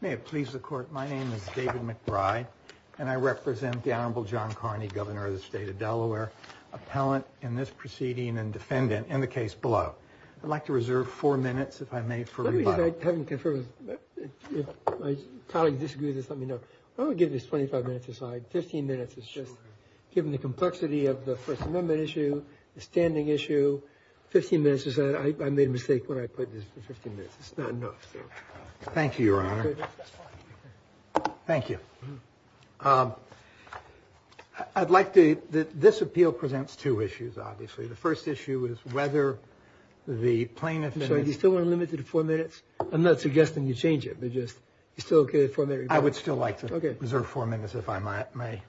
May it please the Court, my name is David McBride and I represent the Honorable John Carney, Governor of the State of Delaware, appellant in this proceeding and defendant in the case below. I'd like to reserve four minutes, if I may, for rebuttal. If my colleagues disagree with this, let me know. I'm going to give this 25 minutes aside. 15 minutes is just, given the complexity of the First Amendment issue, the standing issue, 15 minutes aside, I made a mistake when I put this for 15 minutes. It's not enough, so. Thank you, Your Honor. That's fine. Thank you. I'd like to, this appeal presents two issues, obviously. The first issue is whether the plaintiff I'm sorry, do you still want to limit it to four minutes? I'm not suggesting you change it, but just, you're still okay with four minutes? I would still like to reserve four minutes, if I may.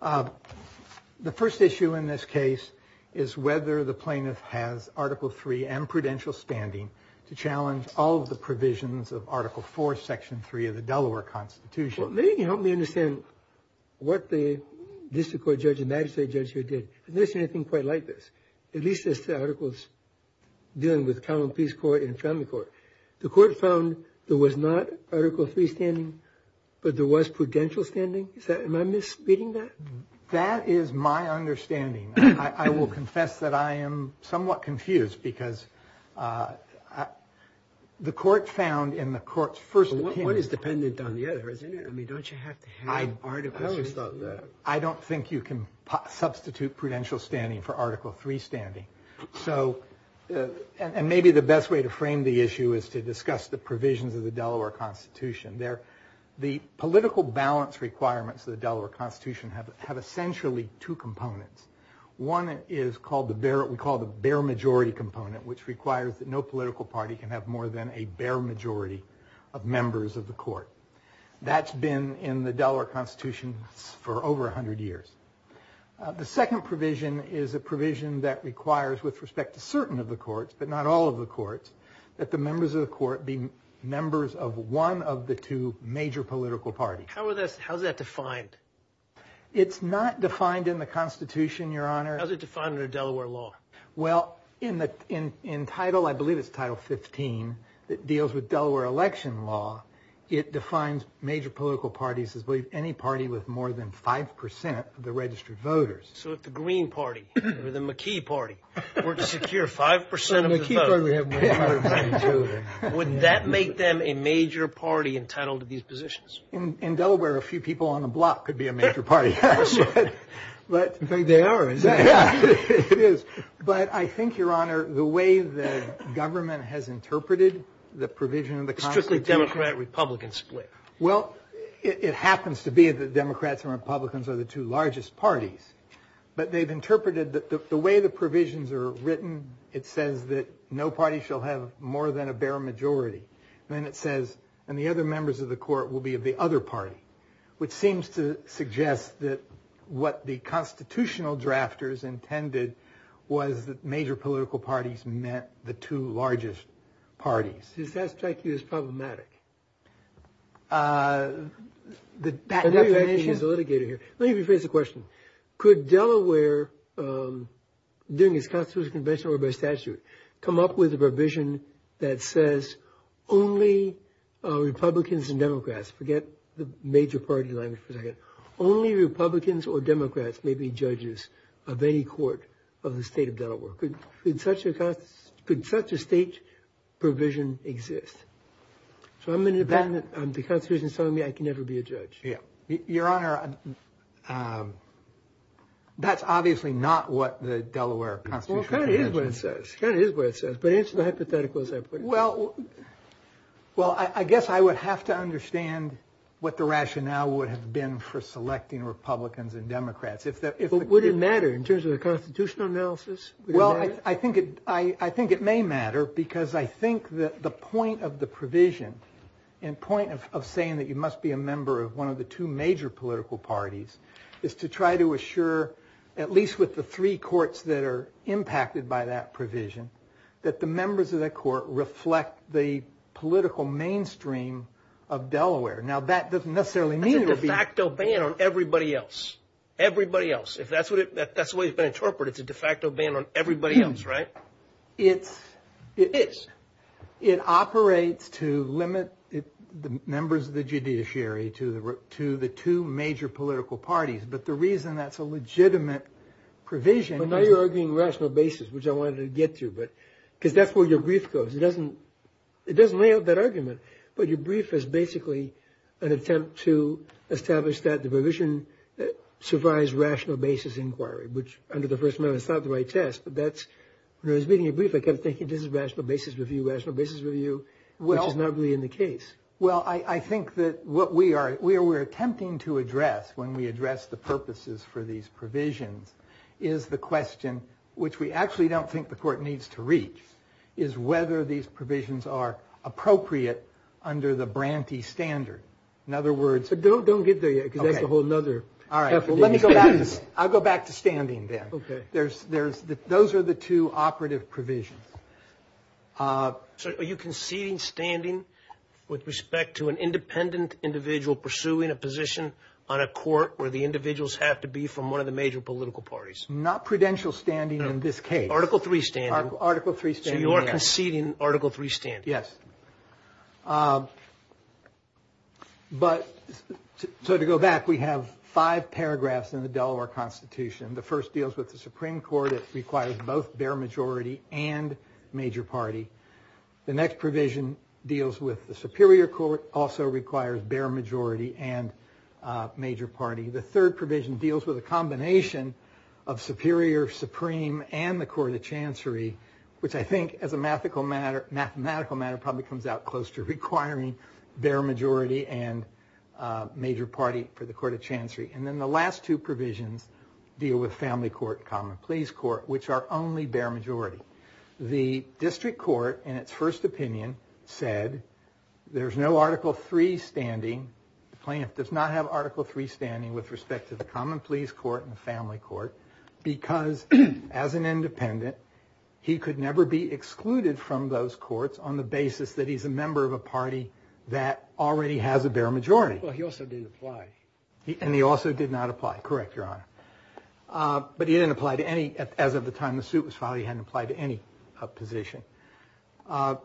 The first issue in this case is whether the plaintiff has Article 3 and prudential standing to challenge all of the provisions of Article 4, Section 3 of the Delaware Constitution. Well, maybe you can help me understand what the district court judge and magistrate judge here did. I've never seen anything quite like this. At least as to articles dealing with common peace court and family court. The court found there was not Article 3 standing, but there was prudential standing? Am I misreading that? That is my understanding. I will confess that I am somewhat confused, because the court found in the court's first opinion One is dependent on the other, isn't it? I mean, don't you have to have articles? I don't think you can substitute prudential standing for Article 3 standing. So, and maybe the best way to frame the issue is to discuss the provisions of the Delaware Constitution. The political balance requirements of the Delaware Constitution have essentially two components. One is called the bare majority component, which requires that no political party can have more than a bare majority of members of the court. That's been in the Delaware Constitution for over 100 years. The second provision is a provision that requires, with respect to certain of the courts, but not all of the courts, that the members of the court be members of one of the two major political parties. How is that defined? It's not defined in the Constitution, Your Honor. How is it defined in a Delaware law? Well, in Title, I believe it's Title 15, that deals with Delaware election law, it defines major political parties as any party with more than 5% of the registered voters. So if the Green Party or the McKee Party were to secure 5% of the vote, wouldn't that make them a major party entitled to these positions? In Delaware, a few people on the block could be a major party. They are, isn't it? It is. But I think, Your Honor, the way the government has interpreted the provision of the Constitution... Strictly Democrat-Republican split. Well, it happens to be that Democrats and Republicans are the two largest parties. But they've interpreted that the way the provisions are written, it says that no party shall have more than a bare majority. Then it says, and the other members of the court will be of the other party. Which seems to suggest that what the constitutional drafters intended was that major political parties meant the two largest parties. Does that strike you as problematic? The fact that... Only Republicans and Democrats, forget the major party language for a second, only Republicans or Democrats may be judges of any court of the state of Delaware. Could such a state provision exist? So I'm an independent. The Constitution is telling me I can never be a judge. Your Honor, that's obviously not what the Delaware Constitution says. Well, it kind of is what it says. It kind of is what it says. But it's not hypothetical as I put it. Well, I guess I would have to understand what the rationale would have been for selecting Republicans and Democrats. Would it matter in terms of the constitutional analysis? Well, I think it may matter because I think that the point of the provision, and point of saying that you must be a member of one of the two major political parties, is to try to assure, at least with the three courts that are impacted by that provision, that the members of that court reflect the political mainstream of Delaware. Now, that doesn't necessarily mean... That's a de facto ban on everybody else. Everybody else. If that's the way it's been interpreted, it's a de facto ban on everybody else, right? It is. It operates to limit the members of the judiciary to the two major political parties. But the reason that's a legitimate provision... But now you're arguing rational basis, which I wanted to get to. Because that's where your brief goes. It doesn't lay out that argument. But your brief is basically an attempt to establish that the provision survives rational basis inquiry, which under the First Amendment is not the right test. When I was reading your brief, I kept thinking this is rational basis review, rational basis review, which is not really in the case. Well, I think that what we are attempting to address when we address the purposes for these provisions is the question, which we actually don't think the court needs to reach, is whether these provisions are appropriate under the Branty standard. In other words... Don't get there yet, because that's a whole other... All right. I'll go back to standing then. Okay. Those are the two operative provisions. So are you conceding standing with respect to an independent individual pursuing a position on a court where the individuals have to be from one of the major political parties? Not prudential standing in this case. Article III standing. Article III standing, yes. So you are conceding Article III standing. Yes. So to go back, we have five paragraphs in the Delaware Constitution. The first deals with the Supreme Court. It requires both bare majority and major party. The next provision deals with the Superior Court. It also requires bare majority and major party. The third provision deals with a combination of Superior, Supreme, and the Court of Chancery, which I think, as a mathematical matter, probably comes out close to requiring bare majority and major party for the Court of Chancery. And then the last two provisions deal with Family Court and Common Pleas Court, which are only bare majority. The District Court, in its first opinion, said there's no Article III standing. The plaintiff does not have Article III standing with respect to the Common Pleas Court and the Family Court because, as an independent, he could never be excluded from those courts on the basis that he's a member of a party that already has a bare majority. Well, he also didn't apply. And he also did not apply. Correct, Your Honor. But he didn't apply to any, as of the time the suit was filed, he hadn't applied to any position. Isn't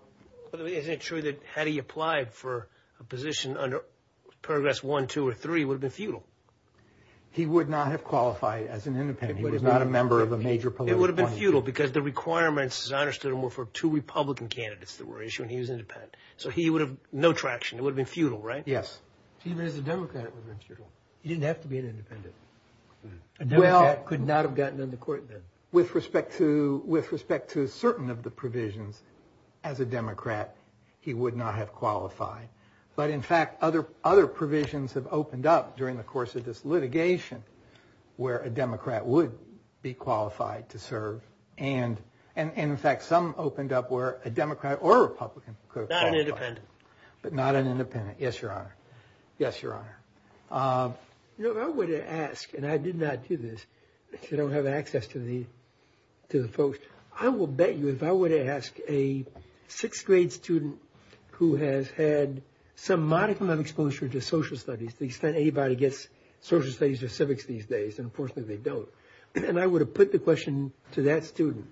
it true that had he applied for a position under Paragraphs I, II, or III, it would have been futile? He would not have qualified as an independent. He was not a member of a major political party. It would have been futile because the requirements, as I understood them, were for two Republican candidates that were issued and he was independent. So he would have no traction. It would have been futile, right? Yes. Even as a Democrat, it would have been futile. He didn't have to be an independent. A Democrat could not have gotten in the court then. With respect to certain of the provisions, as a Democrat, he would not have qualified. But, in fact, other provisions have opened up during the course of this litigation where a Democrat would be qualified to serve. And, in fact, some opened up where a Democrat or a Republican could qualify. Not an independent. But not an independent. Yes, Your Honor. Yes, Your Honor. You know, if I were to ask, and I did not do this because I don't have access to the folks, I will bet you if I were to ask a sixth grade student who has had some modicum of exposure to social studies, to the extent anybody gets social studies or civics these days, and unfortunately they don't, and I were to put the question to that student,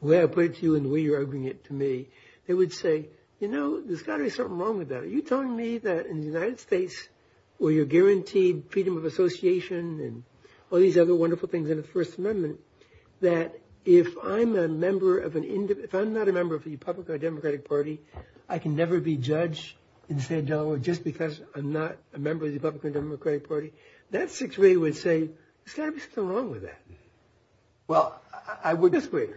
the way I put it to you and the way you're opening it to me, they would say, you know, there's got to be something wrong with that. Are you telling me that in the United States, where you're guaranteed freedom of association and all these other wonderful things in the First Amendment, that if I'm a member of an independent, if I'm not a member of the Republican or Democratic Party, I can never be judged in the state of Delaware just because I'm not a member of the Republican or Democratic Party? That sixth grader would say, there's got to be something wrong with that. Well, I would. Sixth grader.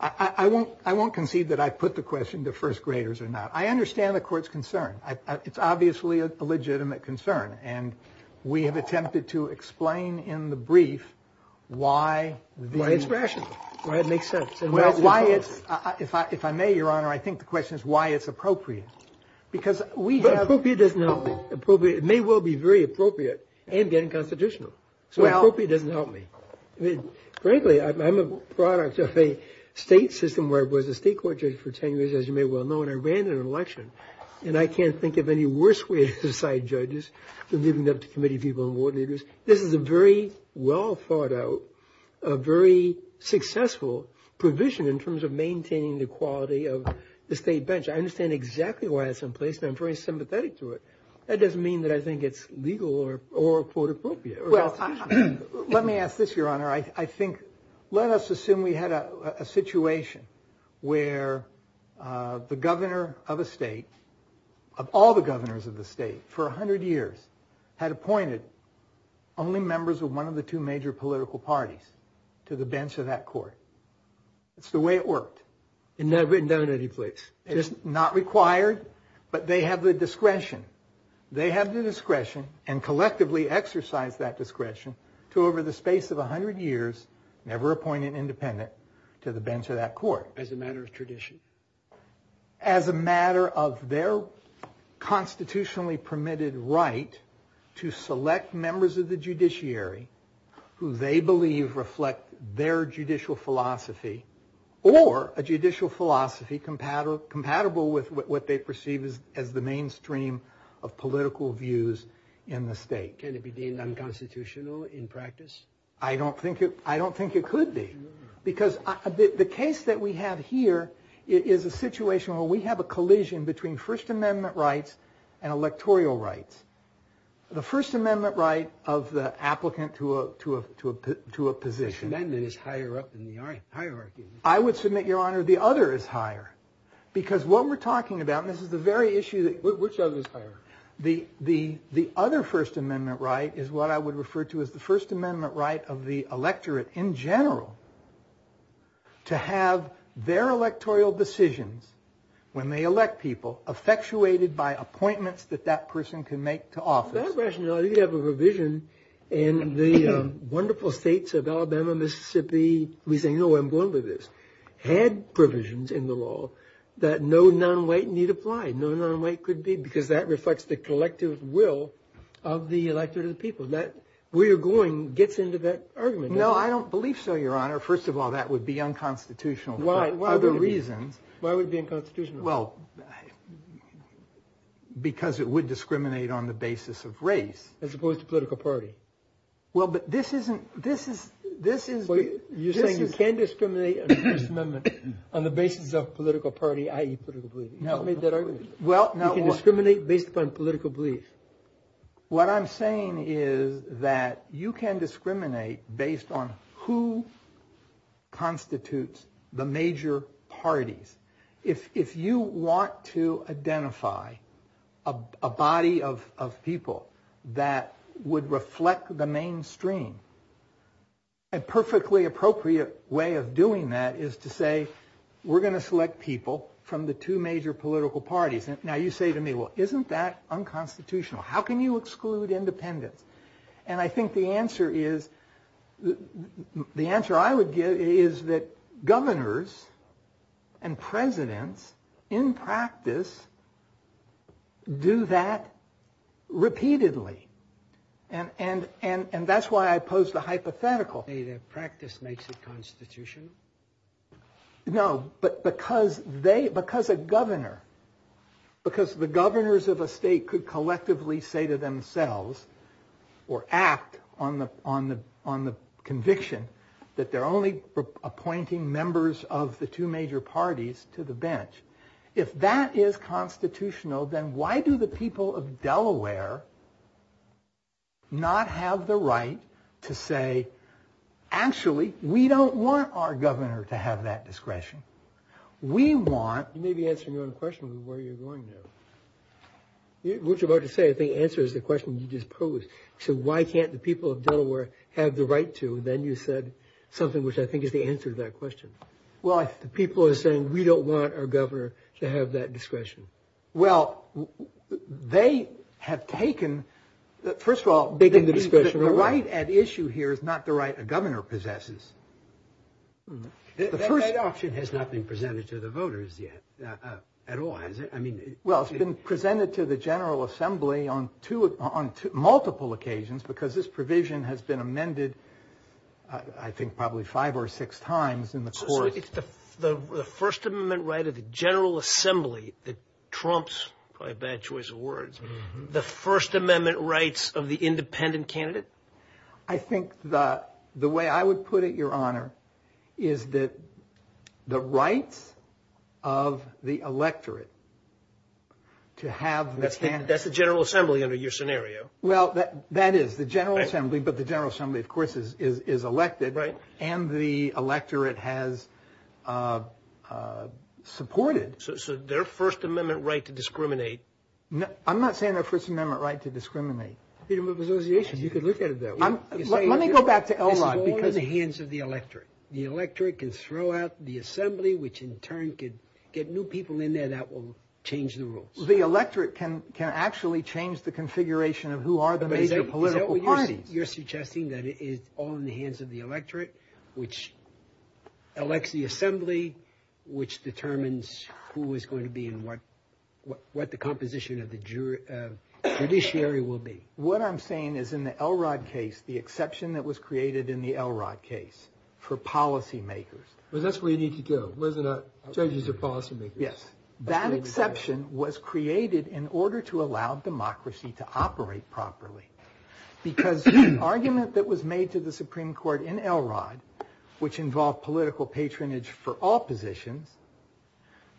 I won't concede that I put the question to first graders or not. I understand the court's concern. It's obviously a legitimate concern, and we have attempted to explain in the brief why it's rational. Why it makes sense. If I may, Your Honor, I think the question is why it's appropriate. Appropriate doesn't help me. It may well be very appropriate and getting constitutional. So appropriate doesn't help me. Frankly, I'm a product of a state system where I was a state court judge for 10 years, as you may well know, and I ran in an election, and I can't think of any worse way to decide judges than leaving it up to committee people and warden leaders. This is a very well thought out, a very successful provision in terms of maintaining the quality of the state bench. I understand exactly why it's in place, and I'm very sympathetic to it. That doesn't mean that I think it's legal or, quote, appropriate. Well, let me ask this, Your Honor. I think let us assume we had a situation where the governor of a state, of all the governors of the state, for 100 years had appointed only members of one of the two major political parties to the bench of that court. That's the way it worked. It's not written down anyplace. It's not required, but they have the discretion. They have the discretion and collectively exercise that discretion to, over the space of 100 years, never appoint an independent to the bench of that court. As a matter of tradition. As a matter of their constitutionally permitted right to select members of the judiciary who they believe reflect their judicial philosophy or a judicial philosophy compatible with what they perceive as the mainstream of political views in the state. Can it be deemed unconstitutional in practice? I don't think it could be because the case that we have here is a situation where we have a collision between First Amendment rights and electoral rights. The First Amendment right of the applicant to a position. The First Amendment is higher up in the hierarchy. I would submit, Your Honor, the other is higher. Because what we're talking about, and this is the very issue that... Which other is higher? The other First Amendment right is what I would refer to as the First Amendment right of the electorate in general to have their electoral decisions, when they elect people, effectuated by appointments that that person can make to office. Without rationality, you have a provision in the wonderful states of Alabama, Mississippi. We say, no, I'm going to do this. Had provisions in the law that no non-white need apply. No non-white could be, because that reflects the collective will of the electorate of the people. That where you're going gets into that argument. No, I don't believe so, Your Honor. First of all, that would be unconstitutional for other reasons. Why would it be unconstitutional? Well, because it would discriminate on the basis of race. As opposed to political party. Well, but this isn't... You're saying you can't discriminate on the basis of political party, i.e. political belief. You made that argument. Well, now what? You can discriminate based upon political belief. What I'm saying is that you can discriminate based on who constitutes the major parties. If you want to identify a body of people that would reflect the mainstream, a perfectly appropriate way of doing that is to say, we're going to select people from the two major political parties. Now you say to me, well, isn't that unconstitutional? How can you exclude independence? And I think the answer is... The answer I would give is that governors and presidents in practice do that repeatedly. And that's why I pose the hypothetical. Practice makes it constitutional. No, but because they... Because a governor... say to themselves or act on the conviction that they're only appointing members of the two major parties to the bench. If that is constitutional, then why do the people of Delaware not have the right to say, actually, we don't want our governor to have that discretion. We want... What you're about to say, I think, answers the question you just posed. You said, why can't the people of Delaware have the right to? Then you said something which I think is the answer to that question. Well, if the people are saying, we don't want our governor to have that discretion. Well, they have taken... First of all, the right at issue here is not the right a governor possesses. That option has not been presented to the voters yet at all, has it? Well, it's been presented to the General Assembly on multiple occasions because this provision has been amended, I think, probably five or six times in the course. So it's the First Amendment right of the General Assembly that trumps, probably a bad choice of words, the First Amendment rights of the independent candidate? I think the way I would put it, Your Honor, is that the rights of the electorate to have... That's the General Assembly under your scenario. Well, that is the General Assembly, but the General Assembly, of course, is elected. Right. And the electorate has supported... So their First Amendment right to discriminate... I'm not saying their First Amendment right to discriminate. Freedom of association, you could look at it that way. Let me go back to Elrod because... This is all in the hands of the electorate. The electorate can throw out the Assembly, which in turn could get new people in there that will change the rules. The electorate can actually change the configuration of who are the major political parties. But is that what you're suggesting? You're suggesting that it is all in the hands of the electorate, which elects the Assembly, which determines who is going to be and what the composition of the judiciary will be. What I'm saying is in the Elrod case, the exception that was created in the Elrod case for policymakers... Well, that's where you need to go. Judges are policymakers. Yes. That exception was created in order to allow democracy to operate properly because the argument that was made to the Supreme Court in Elrod, which involved political patronage for all positions...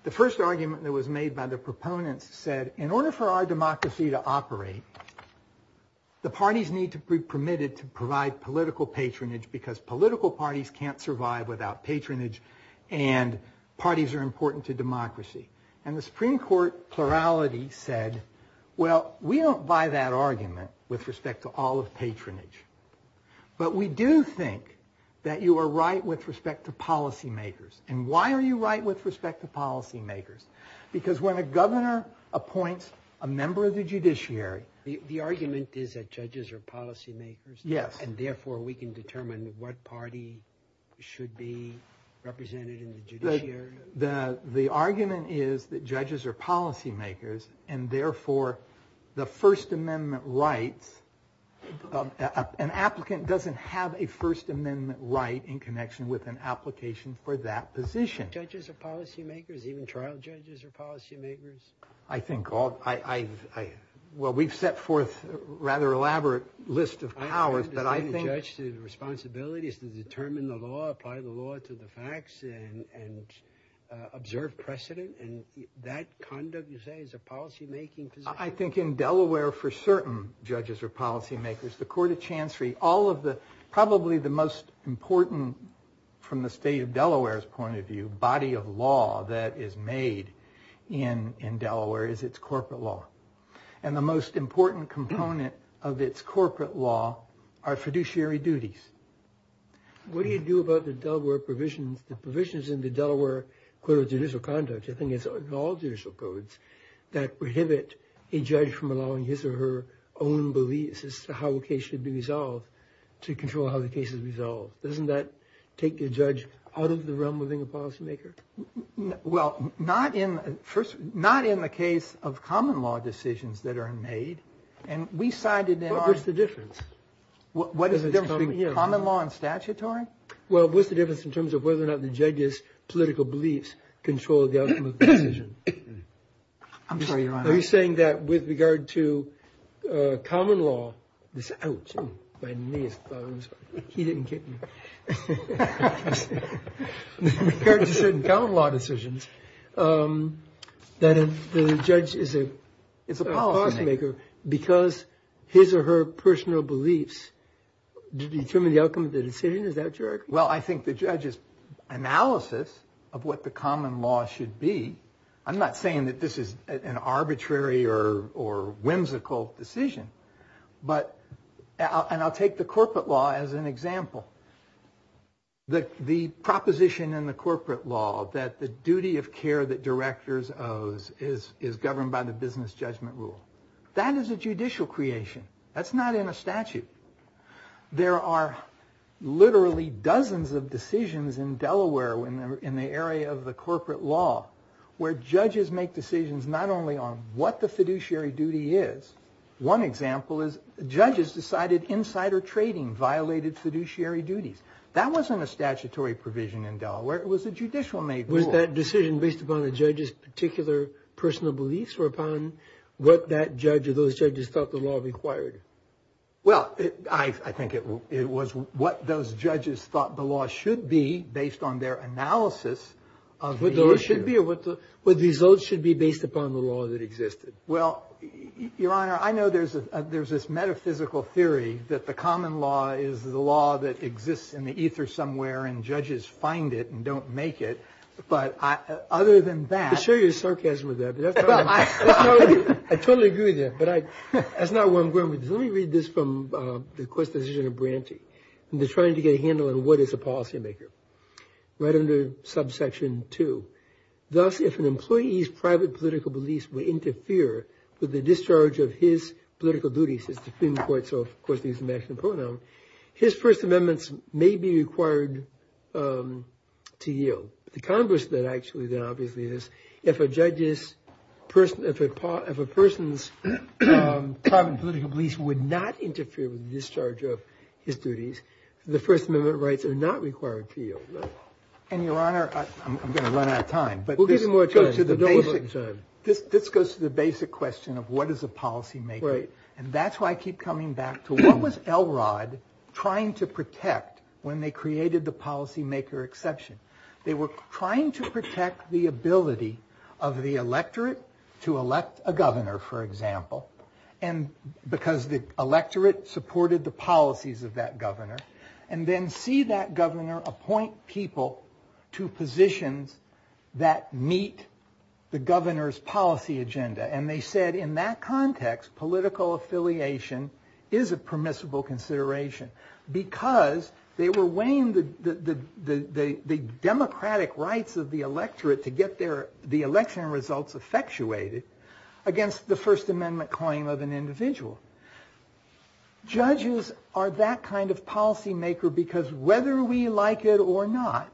The first argument that was made by the proponents said, in order for our democracy to operate, the parties need to be permitted to provide political patronage because political parties can't survive without patronage and parties are important to democracy. And the Supreme Court plurality said, well, we don't buy that argument with respect to all of patronage. But we do think that you are right with respect to policymakers. And why are you right with respect to policymakers? Because when a governor appoints a member of the judiciary... The argument is that judges are policymakers? Yes. The argument is that judges are policymakers and therefore the First Amendment rights... An applicant doesn't have a First Amendment right in connection with an application for that position. Judges are policymakers? Even trial judges are policymakers? I think all... Well, we've set forth a rather elaborate list of powers, but I think... I think the responsibility is to determine the law, apply the law to the facts, and observe precedent. And that conduct, you say, is a policymaking position? I think in Delaware, for certain, judges are policymakers. The Court of Chancery, all of the... Probably the most important, from the state of Delaware's point of view, body of law that is made in Delaware is its corporate law. And the most important component of its corporate law are fiduciary duties. What do you do about the Delaware provisions? The provisions in the Delaware Code of Judicial Conduct, I think it's in all judicial codes, that prohibit a judge from allowing his or her own beliefs as to how a case should be resolved, to control how the case is resolved. Doesn't that take a judge out of the realm of being a policymaker? Well, not in the case of common law decisions that are made. And we cited in our... But what's the difference? What is the difference between common law and statutory? Well, what's the difference in terms of whether or not the judge's political beliefs control the outcome of the decision? I'm sorry, Your Honor. Are you saying that with regard to common law... Ouch, my knee is throbbing. He didn't get me. With regard to certain common law decisions, that if the judge is a policymaker, because his or her personal beliefs determine the outcome of the decision? Is that correct? Well, I think the judge's analysis of what the common law should be... I'm not saying that this is an arbitrary or whimsical decision. But... And I'll take the corporate law as an example. The proposition in the corporate law that the duty of care that directors owes is governed by the business judgment rule. That is a judicial creation. That's not in a statute. There are literally dozens of decisions in Delaware in the area of the corporate law where judges make decisions not only on what the fiduciary duty is. One example is judges decided insider trading violated fiduciary duties. It was a judicial-made rule. Was that decision based upon the judge's particular personal beliefs or upon what that judge or those judges thought the law required? Well, I think it was what those judges thought the law should be based on their analysis of the issue. What the law should be or what the results should be based upon the law that existed. Well, Your Honor, I know there's this metaphysical theory that the common law is the law that exists in the ether somewhere and judges find it and don't make it. But other than that... I could show you sarcasm with that. I totally agree with that. But that's not where I'm going with this. Let me read this from the court's decision of Branty. They're trying to get a handle on what is a policymaker. Right under subsection 2. Thus, if an employee's private political beliefs would interfere with the discharge of his political duties, it's the Supreme Court, so of course these are masculine pronouns, his First Amendments may be required to yield. The converse of that actually then obviously is if a person's private political beliefs would not interfere with the discharge of his duties, the First Amendment rights are not required to yield. And, Your Honor, I'm going to run out of time. We'll give you more time. This goes to the basic question of what is a policymaker. And that's why I keep coming back to what was Elrod trying to protect when they created the policymaker exception. They were trying to protect the ability of the electorate to elect a governor, for example, because the electorate supported the policies of that governor, and then see that governor appoint people to positions that meet the governor's policy agenda. And they said in that context, political affiliation is a permissible consideration because they were weighing the democratic rights of the electorate to get the election results effectuated against the First Amendment claim of an individual. Judges are that kind of policymaker because whether we like it or not,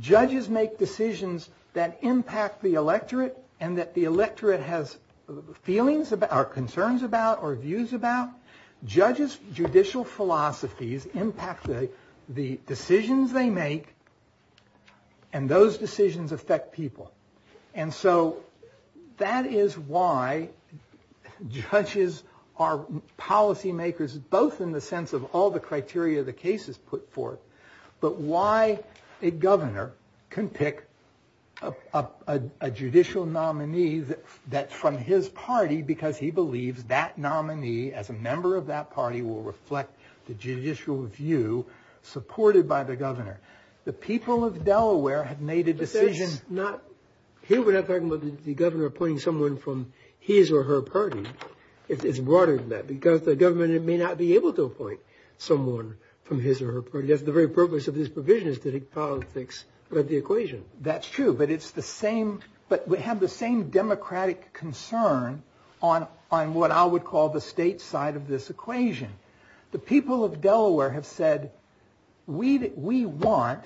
judges make decisions that impact the electorate and that the electorate has feelings about, or concerns about, or views about. Judges' judicial philosophies impact the decisions they make, and those decisions affect people. And so that is why judges are policymakers, both in the sense of all the criteria the case is put forth, but why a governor can pick a judicial nominee that's from his party because he believes that nominee, as a member of that party, will reflect the judicial view supported by the governor. The people of Delaware have made a decision... Here we're not talking about the governor appointing someone from his or her party. It's broader than that, because the government may not be able to appoint someone from his or her party. That's the very purpose of this provision, is to make politics about the equation. That's true, but it's the same... But we have the same democratic concern on what I would call the state side of this equation. The people of Delaware have said, we want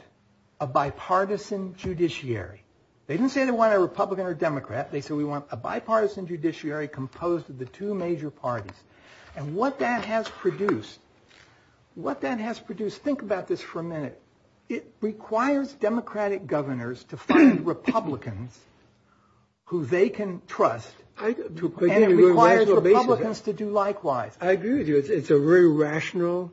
a bipartisan judiciary. They didn't say they want a Republican or Democrat. They said we want a bipartisan judiciary composed of the two major parties. And what that has produced, what that has produced... Think about this for a minute. It requires democratic governors to find Republicans who they can trust, and it requires Republicans to do likewise. I agree with you. It's a very rational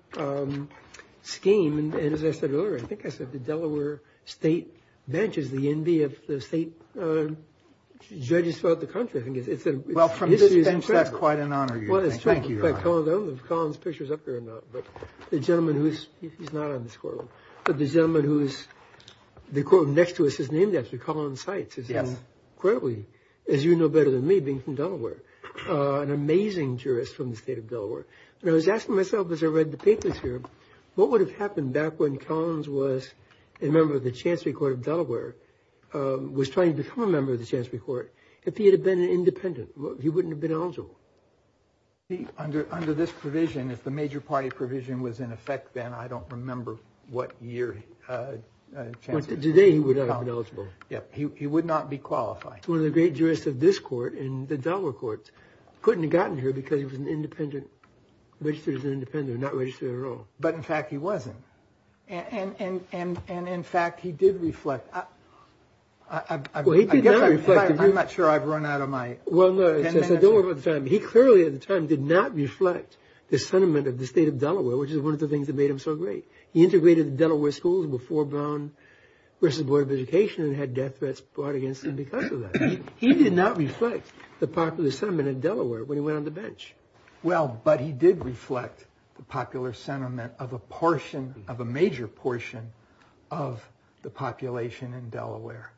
scheme, and as I said earlier, I think I said the Delaware state bench is the envy of the state judges throughout the country. Well, from this bench, that's quite an honor. Thank you. I don't know if Collins' picture is up here or not, but the gentleman who's... He's not on this call, but the gentleman who's... The gentleman next to us is named after Collins Seitz. Yes. Incredibly, as you know better than me, being from Delaware, an amazing jurist from the state of Delaware. And I was asking myself as I read the papers here, what would have happened back when Collins was a member of the Chancery Court of Delaware, was trying to become a member of the Chancery Court, if he had been an independent? He wouldn't have been eligible. Under this provision, if the major party provision was in effect then, I don't remember what year Chancery... Today, he would not have been eligible. Yes. He would not be qualified. One of the great jurists of this court in the Delaware courts couldn't have gotten here because he was an independent, registered as an independent, not registered at all. But, in fact, he wasn't. And, in fact, he did reflect. Well, he did not reflect. I'm not sure I've run out of my... Well, no. Don't worry about the time. He clearly, at the time, did not reflect the sentiment of the state of Delaware, which is one of the things that made him so great. He integrated the Delaware schools before Brown versus Board of Education and had death threats brought against him because of that. He did not reflect the popular sentiment in Delaware when he went on the bench. Well, but he did reflect the popular sentiment of a portion, of a major portion, of the population in Delaware.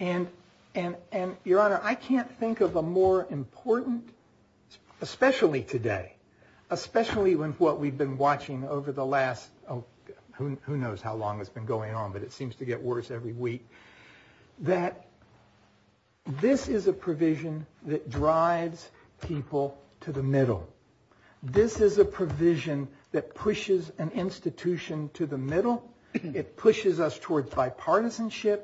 And, Your Honor, I can't think of a more important, especially today, especially with what we've been watching over the last, who knows how long it's been going on, but it seems to get worse every week, that this is a provision that drives people to the middle. This is a provision that pushes an institution to the middle It pushes us toward bipartisanship.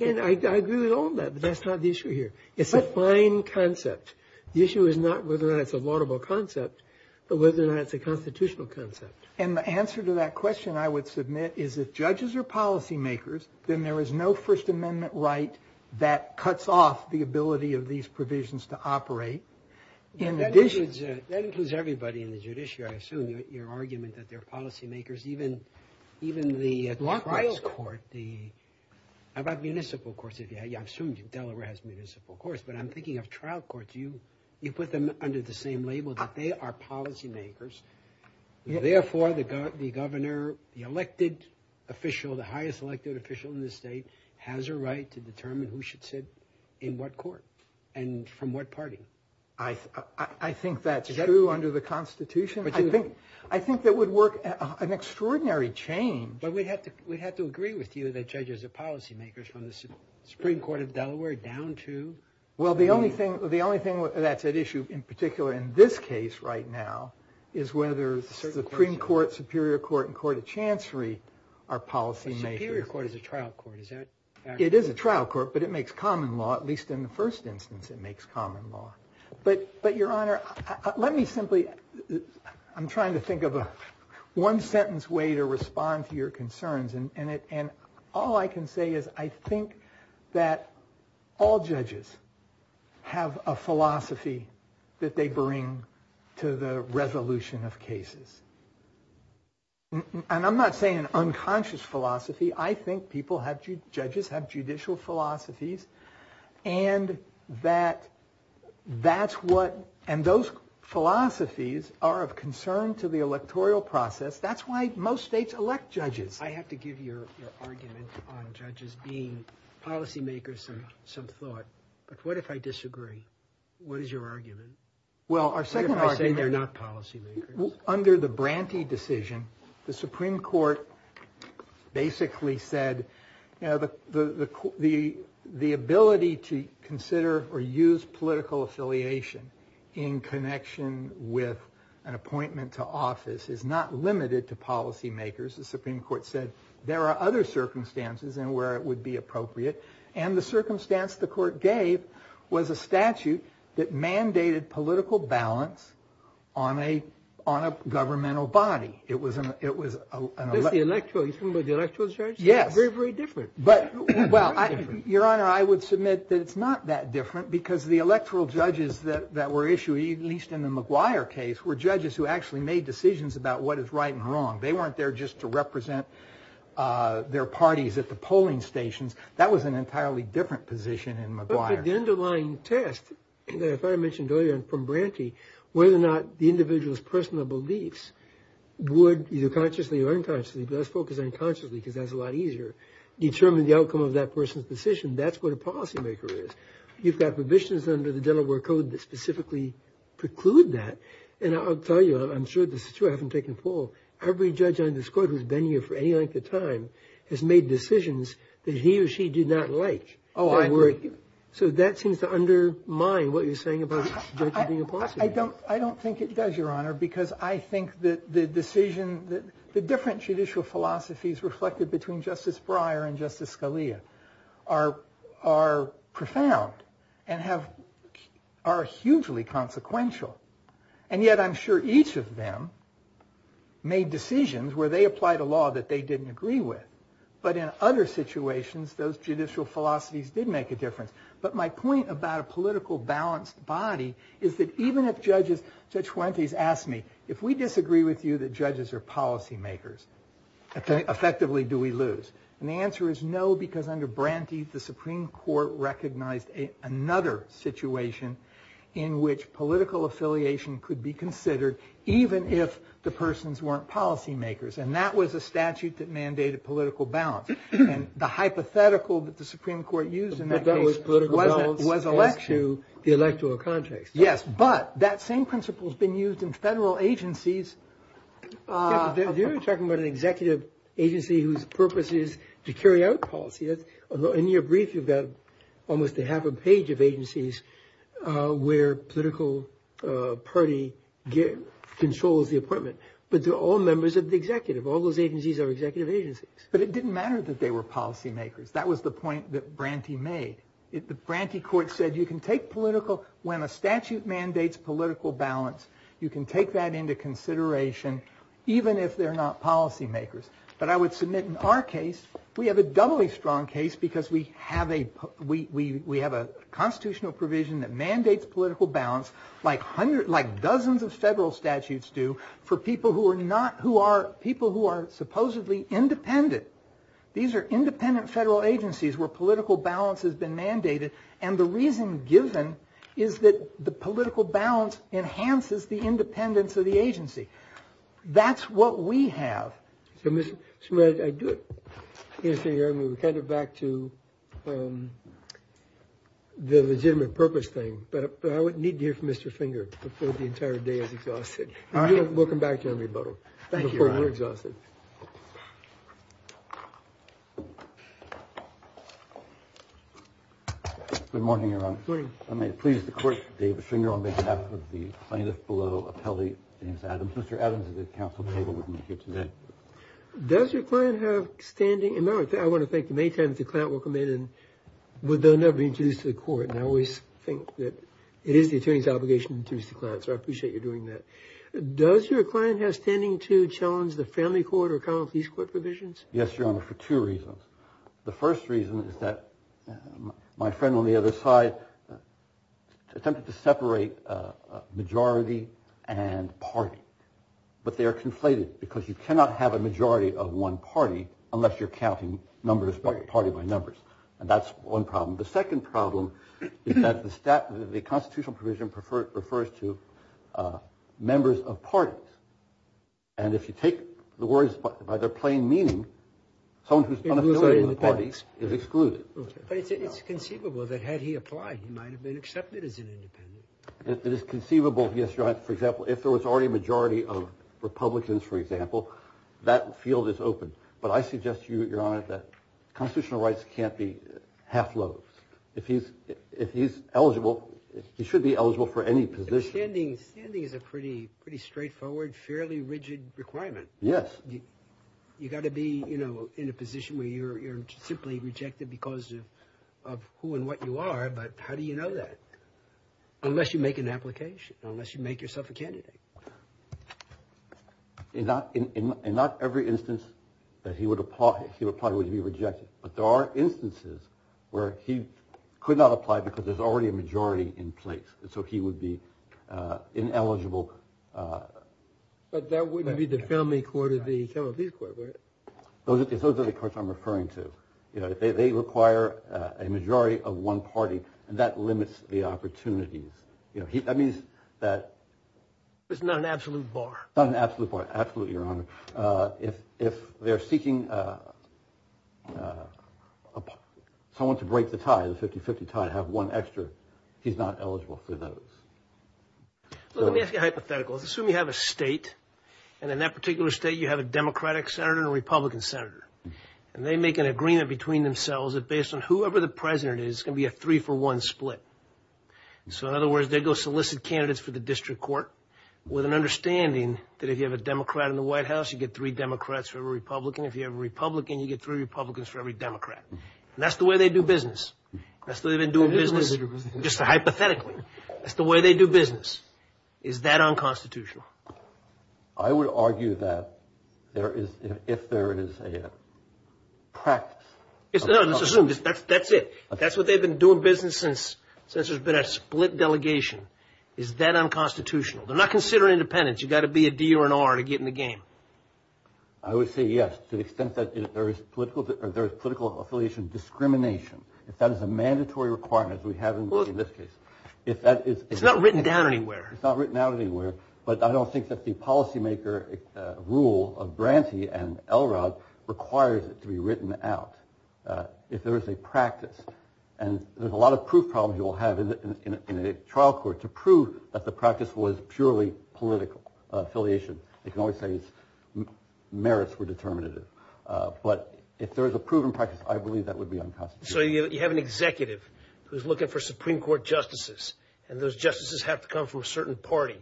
And I agree with all of that, but that's not the issue here. It's a fine concept. The issue is not whether or not it's a laudable concept, but whether or not it's a constitutional concept. And the answer to that question, I would submit, is if judges are policy makers, then there is no First Amendment right that cuts off the ability of these provisions to operate. That includes everybody in the judiciary. I assume your argument that they're policy makers, even the trial court. How about municipal courts? I assume Delaware has municipal courts, but I'm thinking of trial courts. You put them under the same label that they are policy makers. Therefore, the governor, the elected official, the highest elected official in the state, has a right to determine who should sit in what court and from what party. I think that's true under the Constitution. I think that would work an extraordinary change. But we'd have to agree with you that judges are policy makers from the Supreme Court of Delaware down to... Well, the only thing that's at issue, in particular in this case right now, is whether Supreme Court, Superior Court, and Court of Chancery are policy makers. Superior Court is a trial court. It is a trial court, but it makes common law. At least in the first instance, it makes common law. But, Your Honor, let me simply... I'm trying to think of a one-sentence way to respond to your concerns, and all I can say is I think that all judges have a philosophy that they bring to the resolution of cases. And I'm not saying an unconscious philosophy. I think people have... judges have judicial philosophies and that's what... and those philosophies are of concern to the electoral process. That's why most states elect judges. I have to give your argument on judges being policy makers some thought, but what if I disagree? What is your argument? Well, our second argument... What if I say they're not policy makers? Under the Branty decision, the Supreme Court basically said, you know, the ability to consider or use political affiliation in connection with an appointment to office is not limited to policy makers. The Supreme Court said there are other circumstances in where it would be appropriate, and the circumstance the court gave was a statute that mandated political balance on a governmental body. It was an electoral... Yes. Very, very different. Well, Your Honor, I would submit that it's not that different because the electoral judges that were issued, at least in the McGuire case, were judges who actually made decisions about what is right and wrong. They weren't there just to represent their parties at the polling stations. That was an entirely different position in McGuire. But the underlying test, that I thought I mentioned earlier from Branty, whether or not the individual's personal beliefs would, either consciously or unconsciously, and she does focus on consciously because that's a lot easier, determine the outcome of that person's decision, that's what a policy maker is. You've got provisions under the Delaware Code that specifically preclude that. And I'll tell you, I'm sure this is true, I haven't taken a poll, every judge on this court who's been here for any length of time has made decisions that he or she did not like. Oh, I agree. So that seems to undermine what you're saying about judges being a policy maker. I don't think it does, Your Honor, because I think that the decision... the different judicial philosophies reflected between Justice Breyer and Justice Scalia are profound and are hugely consequential. And yet I'm sure each of them made decisions where they applied a law that they didn't agree with. But in other situations, those judicial philosophies did make a difference. But my point about a political balanced body is that even if judges... Judge Fuentes asked me, if we disagree with you that judges are policy makers, effectively do we lose? And the answer is no, because under Branty, the Supreme Court recognized another situation in which political affiliation could be considered even if the persons weren't policy makers. And that was a statute that mandated political balance. And the hypothetical that the Supreme Court used in that case was electoral context. Yes, but that same principle has been used in federal agencies. You're talking about an executive agency whose purpose is to carry out policy. In your brief, you've got almost a half a page of agencies where political party controls the appointment. But they're all members of the executive. All those agencies are executive agencies. But it didn't matter that they were policy makers. That was the point that Branty made. The Branty court said you can take political... When a statute mandates political balance, you can take that into consideration even if they're not policy makers. But I would submit in our case, we have a doubly strong case because we have a constitutional provision that mandates political balance like dozens of federal statutes do for people who are supposedly independent. These are independent federal agencies where political balance has been mandated. And the reason given is that the political balance enhances the independence of the agency. That's what we have. I do it. We're kind of back to the legitimate purpose thing. But I would need to hear from Mr. Finger before the entire day is exhausted. Welcome back, John Rebuttal. Before we're exhausted. Good morning, Your Honor. Good morning. I may please the court, David Finger, on behalf of the plaintiff below, appellee, James Adams. Mr. Adams is the counsel that will be with me here today. Does your client have standing... I want to thank you in the meantime that the client will come in and they'll never be introduced to the court. And I always think that it is the attorney's obligation to introduce the client, so I appreciate you doing that. Does your client have standing to challenge the family court or common police court provisions? Yes, Your Honor, for two reasons. The first reason is that my friend on the other side attempted to separate majority and party. But they are conflated because you cannot have a majority of one party unless you're counting numbers party by numbers. And that's one problem. The second problem is that the constitutional provision refers to members of parties. And if you take the words by their plain meaning, someone who is unaffiliated with the parties is excluded. But it's conceivable that had he applied he might have been accepted as an independent. It is conceivable, yes, Your Honor, for example, if there was already a majority of Republicans, for example, that field is open. But I suggest to you, Your Honor, that constitutional rights can't be half-loved. If he's eligible, he should be eligible for any position. Standing is a pretty straightforward, fairly rigid requirement. Yes. You've got to be, you know, in a position where you're simply rejected because of who and what you are. But how do you know that? Unless you make an application. Unless you make yourself a candidate. In not every instance that he would apply he would probably be rejected. But there are instances where he could not apply because there's already a majority in place. So he would be ineligible. But that wouldn't be the family court or the criminal case court, right? Those are the courts I'm referring to. They require a majority of one party and that limits the opportunities. That means that... It's not an absolute bar. Not an absolute bar, absolutely, Your Honor. If they're seeking someone to break the tie, the 50-50 tie, have one extra, he's not eligible for those. Let me ask you a hypothetical. Assume you have a state and in that particular state you have a Democratic senator and a Republican senator. And they make an agreement between themselves that based on whoever the president is it's going to be a three-for-one split. So in other words, they go solicit candidates for the district court with an understanding that if you have a Democrat in the White House you get three Democrats for every Republican. If you have a Republican you get three Republicans for every Democrat. And that's the way they do business. That's the way they've been doing business just hypothetically. That's the way they do business. Is that unconstitutional? I would argue that if there is a practice... No, let's assume that's it. That's what they've been doing business since there's been a split delegation. Is that unconstitutional? They're not considering independence. You've got to be a D or an R to get in the game. I would say yes to the extent that there is political affiliation discrimination. If that is a mandatory requirement as we have in this case. It's not written down anywhere. It's not written down anywhere. But I don't think that the policymaker rule of Branty and Elrod requires it to be written out if there is a practice. And there's a lot of proof problems you'll have in a trial court to prove that the practice was purely political affiliation. They can always say its merits were determinative. But if there is a proven practice I believe that would be unconstitutional. So you have an executive who's looking for Supreme Court justices and those justices have to come from a certain party.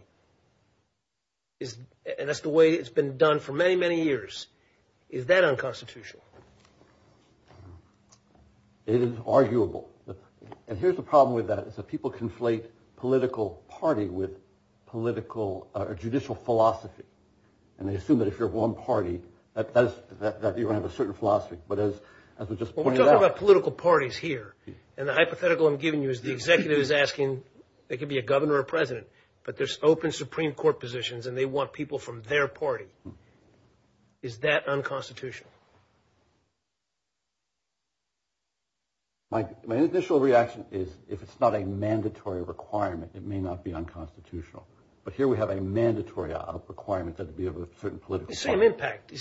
And that's the way it's been done for many, many years. Is that unconstitutional? It is arguable. And here's the problem with that is that people conflate political party with political or judicial philosophy. And they assume that if you're one party that you have a certain philosophy. But as we just pointed out. We're talking about political parties here and the hypothetical I'm giving you is the executive is asking they could be a governor or president but there's open Supreme Court positions and they want people from their party. Is that unconstitutional? My initial reaction is if it's not a mandatory requirement it may not be unconstitutional. But here we have a mandatory requirement that it be of a certain political party. The same impact.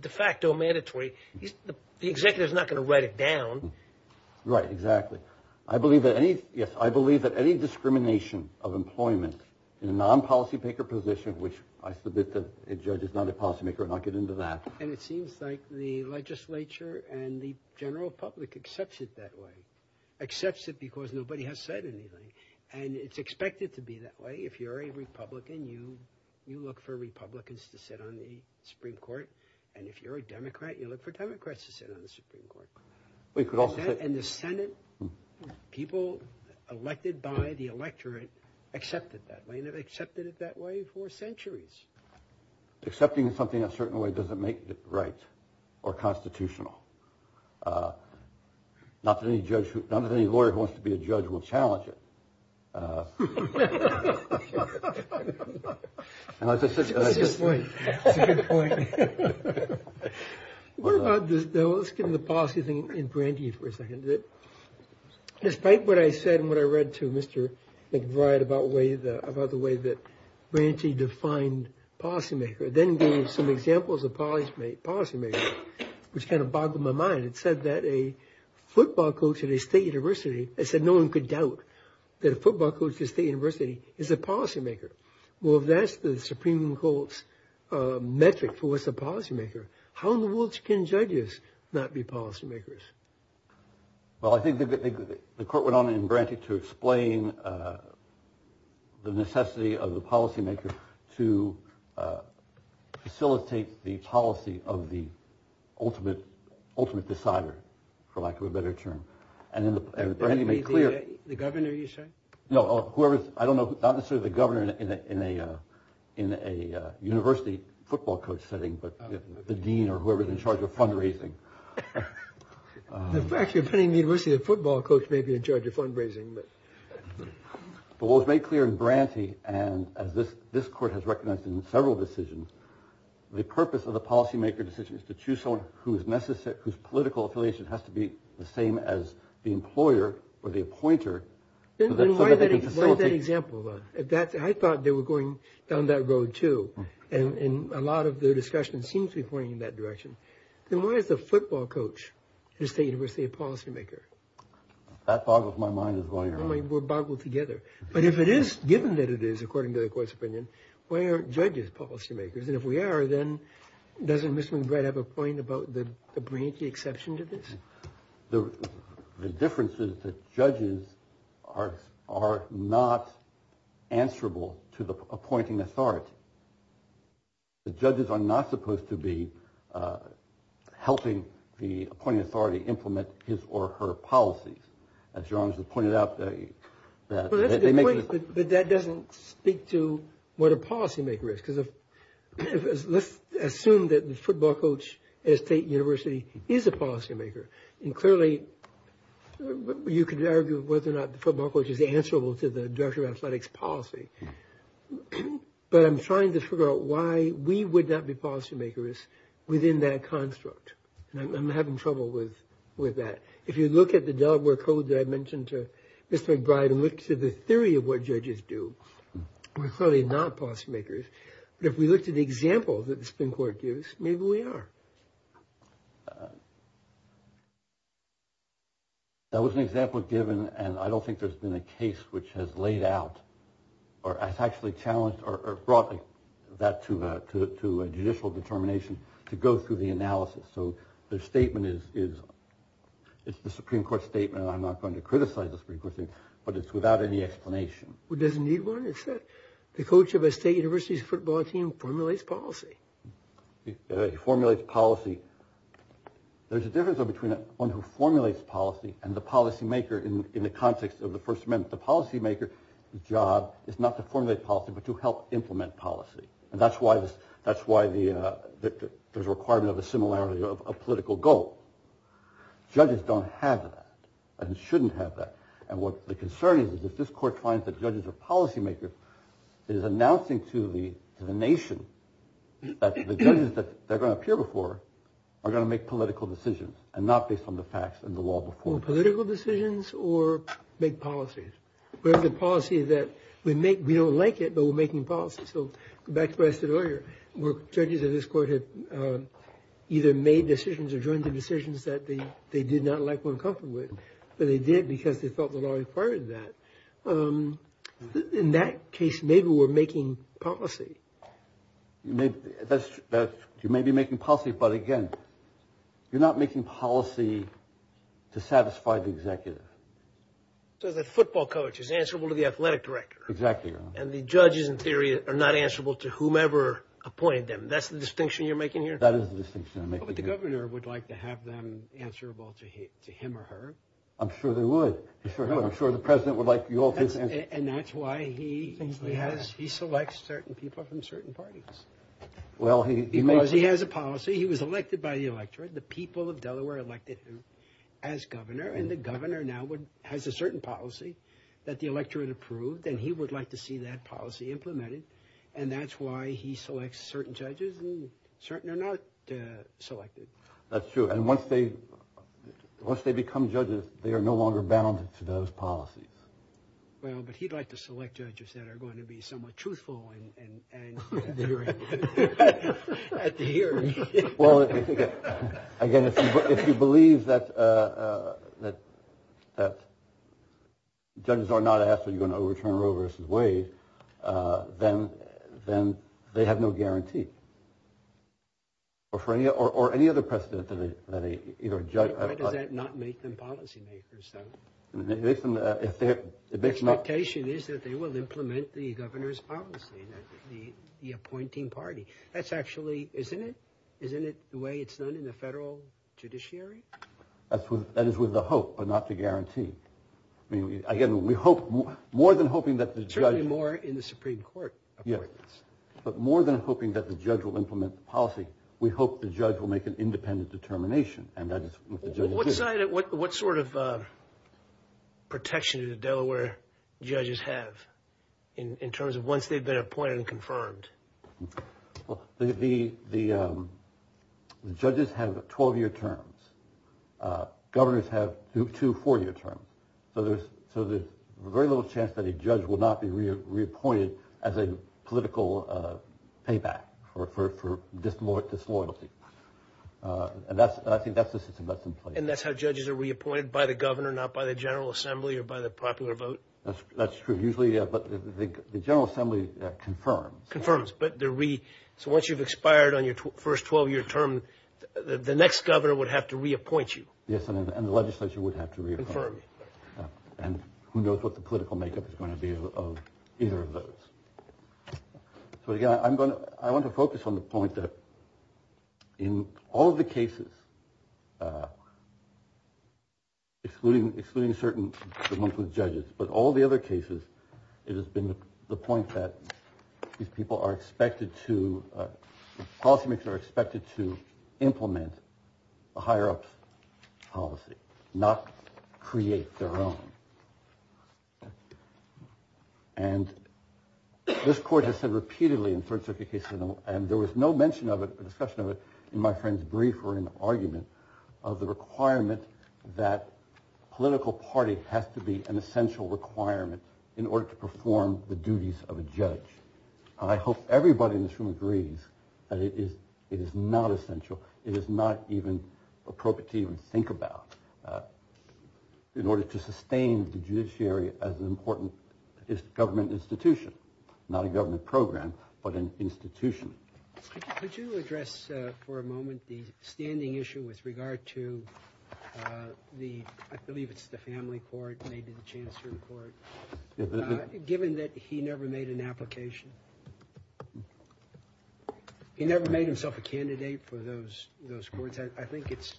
De facto mandatory. The executive is not going to write it down. Right, exactly. I believe that any yes, I believe that any discrimination of employment in a non-policy maker position which I submit that a judge is not a policy maker and I'll get into that. And it seems like the legislature and the general public accepts it that way. Accepts it because nobody has said anything. And it's expected to be that way. If you're a Republican you look for Republicans to sit on the Supreme Court. And if you're a Democrat you look for Democrats to sit on the Supreme Court. And the Senate people elected by the electorate accepted that. They've accepted it that way for centuries. Accepting something a certain way doesn't make it right or constitutional. Not that any lawyer who wants to be a judge will challenge it. That's a good point. That's a good point. Let's get into the policy thing in Branty for a second. Despite what I said and what I read to Mr. McBride about the way that Branty defined policy maker then gave some examples of policy makers which kind of boggled my mind. It said that a football coach at a state university it said no one could doubt that a football coach at a state university is a policy maker. Well if that's the Supreme Court's metric for what's a policy maker how in the world can judges not be policy makers? Well I think the court went on in Branty to explain the necessity of the policy maker to facilitate the policy of the ultimate ultimate decider for lack of a better term. And Branty made clear The governor you said? No, whoever I don't know not necessarily the governor in a university football coach setting but the dean or whoever is in charge of fundraising. Actually depending on the university the football coach may be in charge of fundraising. But what was made clear in Branty and as this court has recognized in several decisions the purpose of the policy maker decision is to choose someone whose political affiliation has to be the same as the employer or the appointer so that they can facilitate Why that example though? I thought they were going down that road too. And a lot of the discussion seems to be pointing in that direction. Then why is the football coach at a state university a policy maker? That boggles my mind as well. We're boggled together. But if it is given that it is according to the court's opinion why aren't judges policy makers? And if we are then doesn't Mr. McBride have a point about the Branty exception to this? The difference is that judges are not answerable to the appointing authority. The judges are not supposed to be helping the appointing authority implement his or her policies. As John has pointed out But that doesn't speak to what a policy maker is. Because let's assume that the football coach at a state university is a policy maker. And clearly you could argue whether or not the football coach is answerable to the Director of Athletics policy. But I'm trying to figure out why we would not be policy makers within that construct. And I'm having trouble with that. If you look at the Delaware Code that I mentioned to Mr. McBride and look to the theory of what judges do we're clearly not policy makers. But if we look to the example that the Supreme Court gives maybe we are. That was an example given and I don't think there's been a case which has laid out or has actually challenged or brought that to a judicial determination to go through the analysis. So their statement is it's the Supreme Court statement and I'm not going to criticize the Supreme Court statement but it's without any explanation. It doesn't need one. The coach of a state university's football team formulates policy. He formulates policy. There's a difference between one who formulates policy and the policy maker in the context of the First Amendment. The policy maker's job is not to formulate policy but to help implement policy. And that's why there's a requirement of a similarity of a political goal. Judges don't have that and shouldn't have that. And what the concern is is if this court finds that judges are policy makers it is announcing to the nation that the judges that are going to appear before are going to make political decisions and not based on the facts and the law before them. Make political decisions or make policies? Whether the policy that we make we don't like it but we're making policy. So back to what I said earlier where judges of this court have either made decisions or joined the decisions that they did not like or were uncomfortable with. But they did because they felt the law required that. In that case maybe we're making policy. You may be making policy but again you're not making policy to satisfy the executive. So the football coach is answerable to the athletic director. Exactly. And the judges in theory are not answerable to whomever appointed them. That's the distinction you're making here? That is the distinction I'm making here. But the governor would like to have them answerable to him or her. I'm sure they would. I'm sure the president would like you all to answer. And that's why he selects certain people from certain parties. Because he has a policy. He was elected by the electorate. The people of Delaware elected him as governor. And the governor now has a certain policy that the electorate approved. And he would like to see that policy implemented. And that's why he selects certain judges and certain are not selected. That's true. And once they become judges they are no longer bound to those policies. Well, but he'd like to select judges that are going to be somewhat truthful and literate. At the hearing. Well, again, if you believe that judges are not asked are you going to overturn Roe versus Wade then they have no guarantee. Or any other precedent that a judge... Why does that not make them policy makers, though? The expectation is that they will implement the governor's policy. The appointing party. That's actually... Isn't it the way it's done in the federal judiciary? That is with the hope but not the guarantee. Again, we hope... More than hoping that the judge... Certainly more in the Supreme Court appointments. Yes. But more than hoping that the judge will implement the policy. We hope the judge will make an independent determination. What sort of protection do the Delaware judges have in terms of once they've been appointed and confirmed? Well, the judges have 12-year terms. Governors have two four-year terms. So there's very little chance that a judge will not be reappointed as a political payback for disloyalty. And I think that's the system that's in place. And that's how judges are reappointed? By the governor, not by the General Assembly or by the popular vote? That's true. Usually... But the General Assembly confirms. Confirms. But the re... So once you've expired on your first 12-year term, the next governor would have to reappoint you. Yes, and the legislature would have to reappoint. Confirmed. And who knows what the political makeup is going to be of either of those. So again, I'm going to... I want to focus on the point that in all of the cases, excluding certain the monthly judges, but all the other cases, it has been the point that these people are expected to... Policy makers are expected to implement the higher-ups' policy, not create their own. And this court has said repeatedly in third-circuit cases, and there was no mention of it, or discussion of it, in my friend's brief or in an argument, of the requirement that political party has to be an essential requirement in order to perform the duties of a judge. And I hope everybody in this room agrees that it is not essential, it is not even appropriate to even think about in order to sustain the judiciary as an important government institution, not a government program, but an institution. Could you address for a moment the standing issue with regard to the... I believe it's the family court, maybe the chancellor court. Given that he never met an application, he never made himself a candidate for those courts. I think it's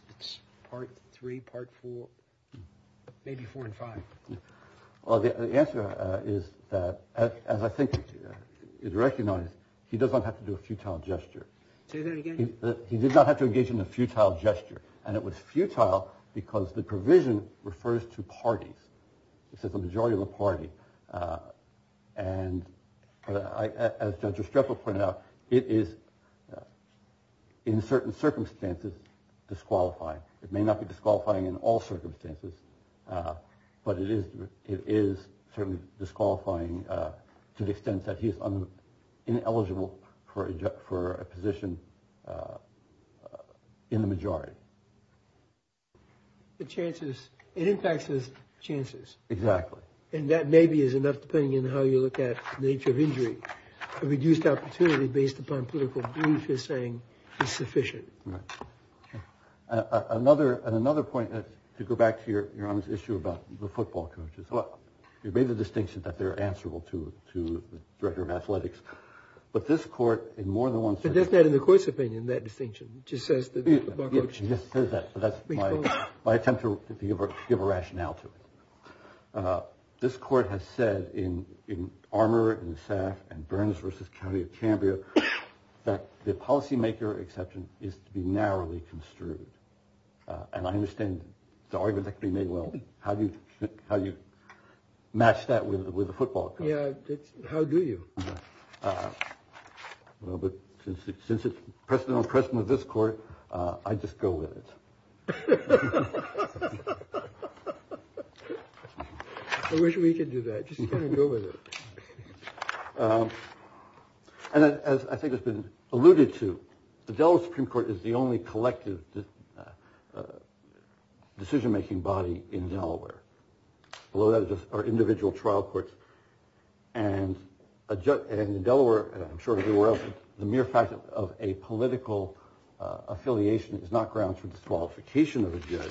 part three, part four, maybe four and five. Well, the answer is that, as I think is recognized, he does not have to do a futile gesture. Say that again? He did not have to engage And it was futile because the provision refers to parties. It says the majority of the party. And as Judge Restrepo pointed out, it is, in certain circumstances, disqualifying. It may not be disqualifying in all circumstances, but it is certainly disqualifying to the extent that he is ineligible for a position in the majority. The chances, it impacts his chances. Exactly. And that maybe is enough depending on how you look at the nature of injury. A reduced opportunity based upon political belief is saying it's sufficient. Right. Another point, to go back to your earlier issue about the football coaches. You made the distinction that they're answerable to the director of athletics. But this court, in more than one circumstance But that's not in the court's opinion, that distinction. It just says that the football coach Yes, it says that. But that's my attempt to give a rationale to it. This court has said in Armour and Staff and Burns versus County of Cambria that the policymaker exception is to be narrowly construed. And I understand the argument that can be made. Well, how do you, how do you match that with the football coach? Yeah. How do you? Well, but since it's precedent on precedent with this court, I just go with it. I wish we could do that. Just kind of go with it. And as I think has been alluded to, the Delaware Supreme Court is the only collective decision making body in Delaware. Below that are individual trial courts. And in Delaware, I'm sure you're aware of the mere fact of a political affiliation is not grounds for disqualification of the court.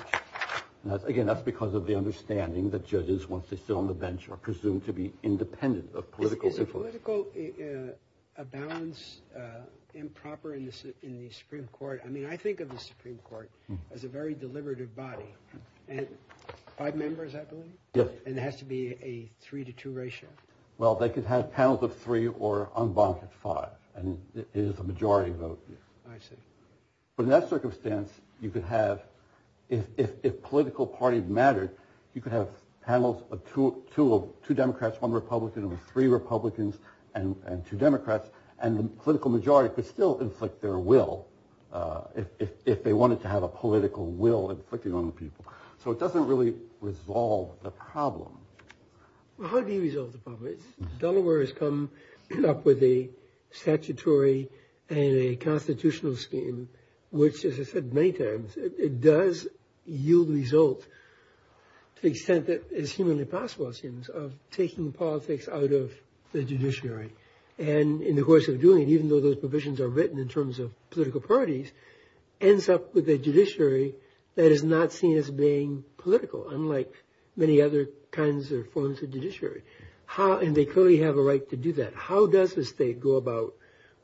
Again, that's because of the understanding that judges, once they sit on the bench, are presumed to be independent of political influence. Is political a balance improper in the Supreme Court? I mean, I think of the Supreme Court as a very deliberative body. And five members, I believe? Yes. And it has to be a three to two ratio? Well, they could have panels of three or unbonked at five. And it is a majority vote. I see. But in that circumstance, you could have if political party mattered, you could have panels of two Democrats, one Republican, three Republicans, and two Democrats. And the political majority could still inflict their will if they wanted to have a political will inflicting on the people. So it doesn't really resolve the problem. How do you resolve the problem? Delaware has come up with a statutory and a constitutional scheme, which, as I said many times, it does yield results to the extent that is humanly possible, it seems, of taking politics out of the judiciary. And in the course of doing it, even though those provisions are written in terms of political parties, ends up with a judiciary that is not seen as being political, unlike many other kinds or forms of judiciary. And they clearly have a right to do that. How does the state go about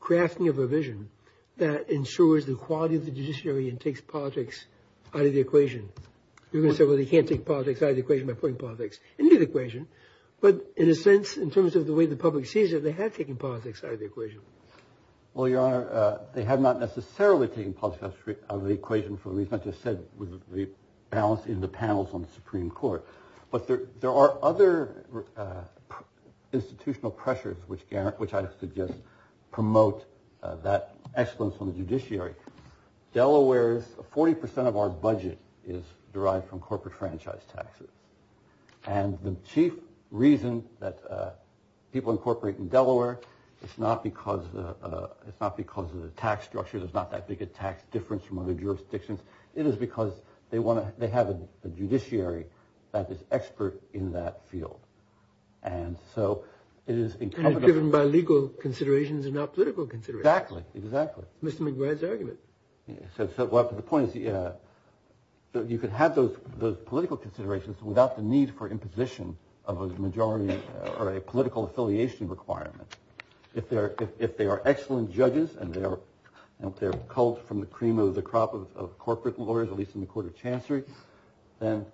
crafting a provision that ensures the quality of the judiciary and takes politics out of the equation? You're going to say, well, they can't take politics out of the equation by putting politics into the equation. But in a sense, in terms of the way the public sees it, they have taken politics out of the equation. Well, Your Honor, they have not necessarily taken politics out of the equation for the reason I just said with the balance in the panels on the Supreme Court. But there are other institutional pressures which I suggest promote that excellence on the judiciary. Delaware's 40% of our budget is derived from corporate franchise taxes. And the chief reason that people incorporate in Delaware is not because it's not because of the tax structure. There's not that big a tax difference from other jurisdictions. It is because they have a judiciary that is expert in that field. And so it is encompassed... And it's given by legal considerations and not political considerations. Exactly, exactly. Mr. McGrath's argument. So the point is you can have those political considerations without the need for imposition of a majority or a political affiliation requirement. If they are excellent judges and they're pulled from the cream of the crop of corporate lawyers at least in the Court of Chancery, then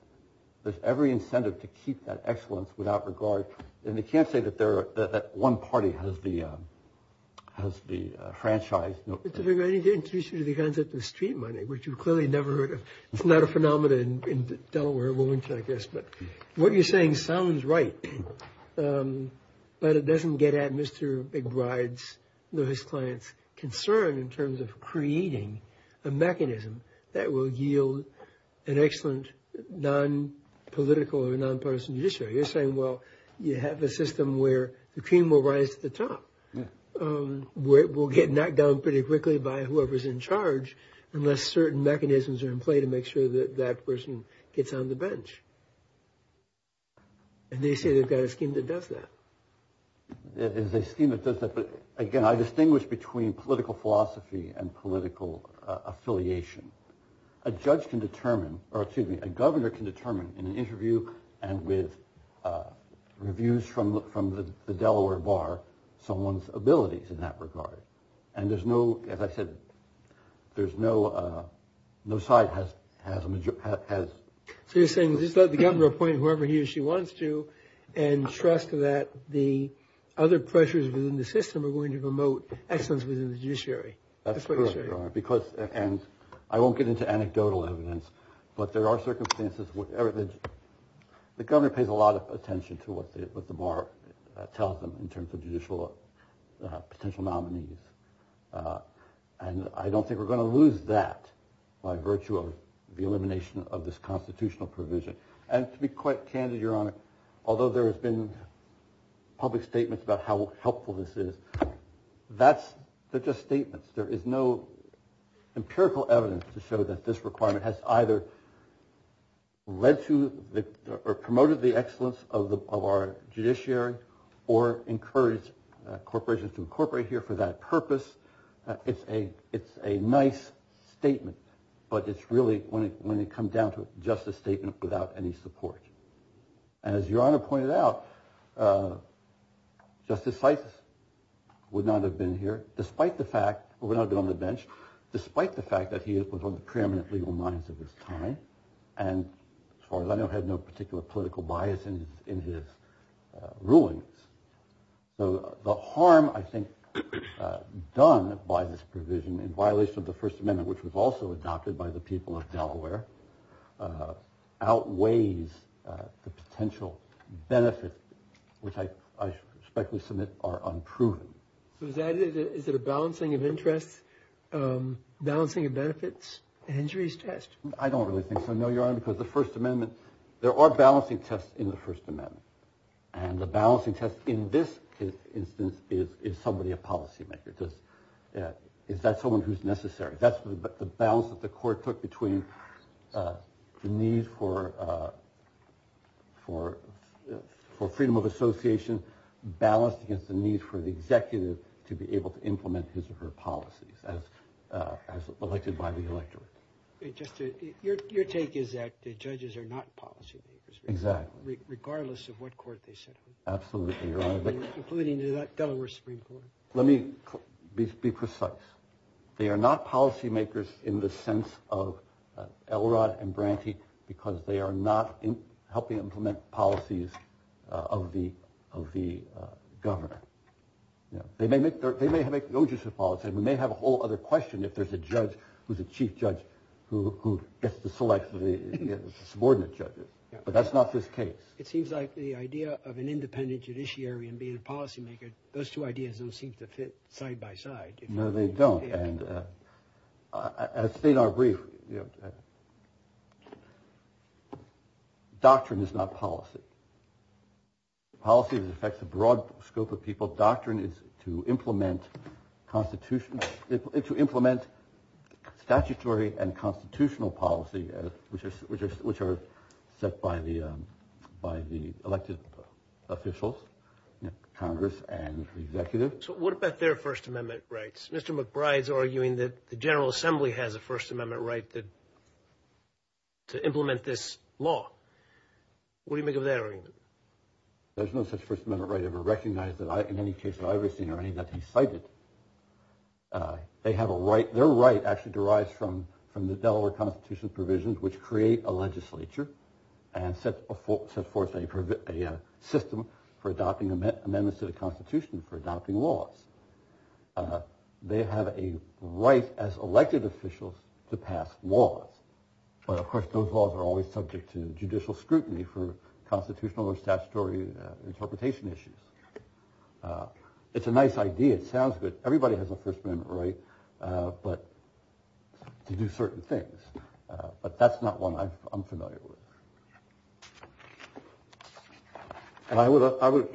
there's every incentive to keep that excellence without regard. And you can't say that one party has the franchise... Mr. McGrath, I need to introduce you to the concept of street money, which you've clearly never heard of. It's not a phenomenon in Delaware, I guess. But what you're saying sounds right, but it doesn't get at Mr. McGrath's or his client's concern in terms of creating a mechanism that will yield an excellent non-political or non-partisan judiciary. You're saying, well, you have a system where the cream will rise to the top. We'll get knocked down pretty quickly by whoever's in charge unless certain mechanisms are in play to make sure that that person gets on the bench. And they say they've got a scheme that does that. It is a scheme that does that, but again, I distinguish between political philosophy and political affiliation. A judge can determine, or excuse me, a governor can determine in an interview and with reviews from the Delaware Bar someone's abilities in that regard. And there's no, as I said, there's no no side has a So you're saying just let the governor appoint whoever he or she wants to and trust that the other pressures within the system are going to promote excellence within the judiciary. That's correct, Your Honor. Because, and I won't get into anecdotal evidence, but there are circumstances where the governor pays a lot of attention to what the bar tells them in terms of judicial potential nominees and I don't think we're going to lose that by virtue of the elimination of this constitutional provision. And to be quite candid, Your Honor, although there has been public statements about how helpful this is, that's they're just statements. There is no empirical evidence to show that this requirement has either led to or promoted the excellence of our judiciary or encouraged corporations to incorporate the judiciary here for that purpose. It's a nice statement, but it's really when it comes down to it, just a statement without any support. And as Your Honor pointed out, Justice Seitz would not have been here despite the fact or would not have been on the bench despite the fact that he was on the preeminent legal lines of his time and as far as I know had no particular political bias in his rulings. So, the harm I think done by this provision in violation of the First Amendment which was also adopted by the people of Delaware outweighs the potential benefit which I respectfully submit are unproven. Is it a balancing of interests, balancing of benefits, injuries test? I don't really think so, Your Honor, because the re are balancing tests in the First Amendment and the balancing test in this instance is somebody a policymaker. Is that someone who's necessary? That's the balance that the court took between the need for freedom of association balanced against the need for the executive to be able to implement his or her policies as elected by the Supreme Court regardless of what court they sit on. Including the Delaware Supreme Court. Let me be precise. They are not policymakers in the sense of Elrod and Branty because they are not helping implement policies of the governor. They may make no use of policy. We may have a whole other question if there's a judge who's a chief judge who gets to select the subordinate judges but that's not this case. It seems like the idea of an independent judiciary and being a policymaker, those two ideas don't seem to fit side by side. No, they don't. As Stenar briefed, doctrine is not policy. Policy affects a broad scope of people. So doctrine is to implement constitutional to implement statutory and constitutional policy which are set by the elected officials, Congress, and executive. So what about their First Amendment rights? Mr. McBride's arguing that the General Assembly has a First Amendment right to implement this law. What do they have to say about that? They have a right, their right actually derives from the Delaware Constitution provisions which create a legislature and set forth a system for adopting amendments to the Constitution for adopting laws. They have a right as elected officials to pass laws. But of course those laws are always subject to judicial scrutiny. It's a nice idea. It sounds good. Everybody has a First Amendment right to do certain things. But that's not one I'm familiar with. I would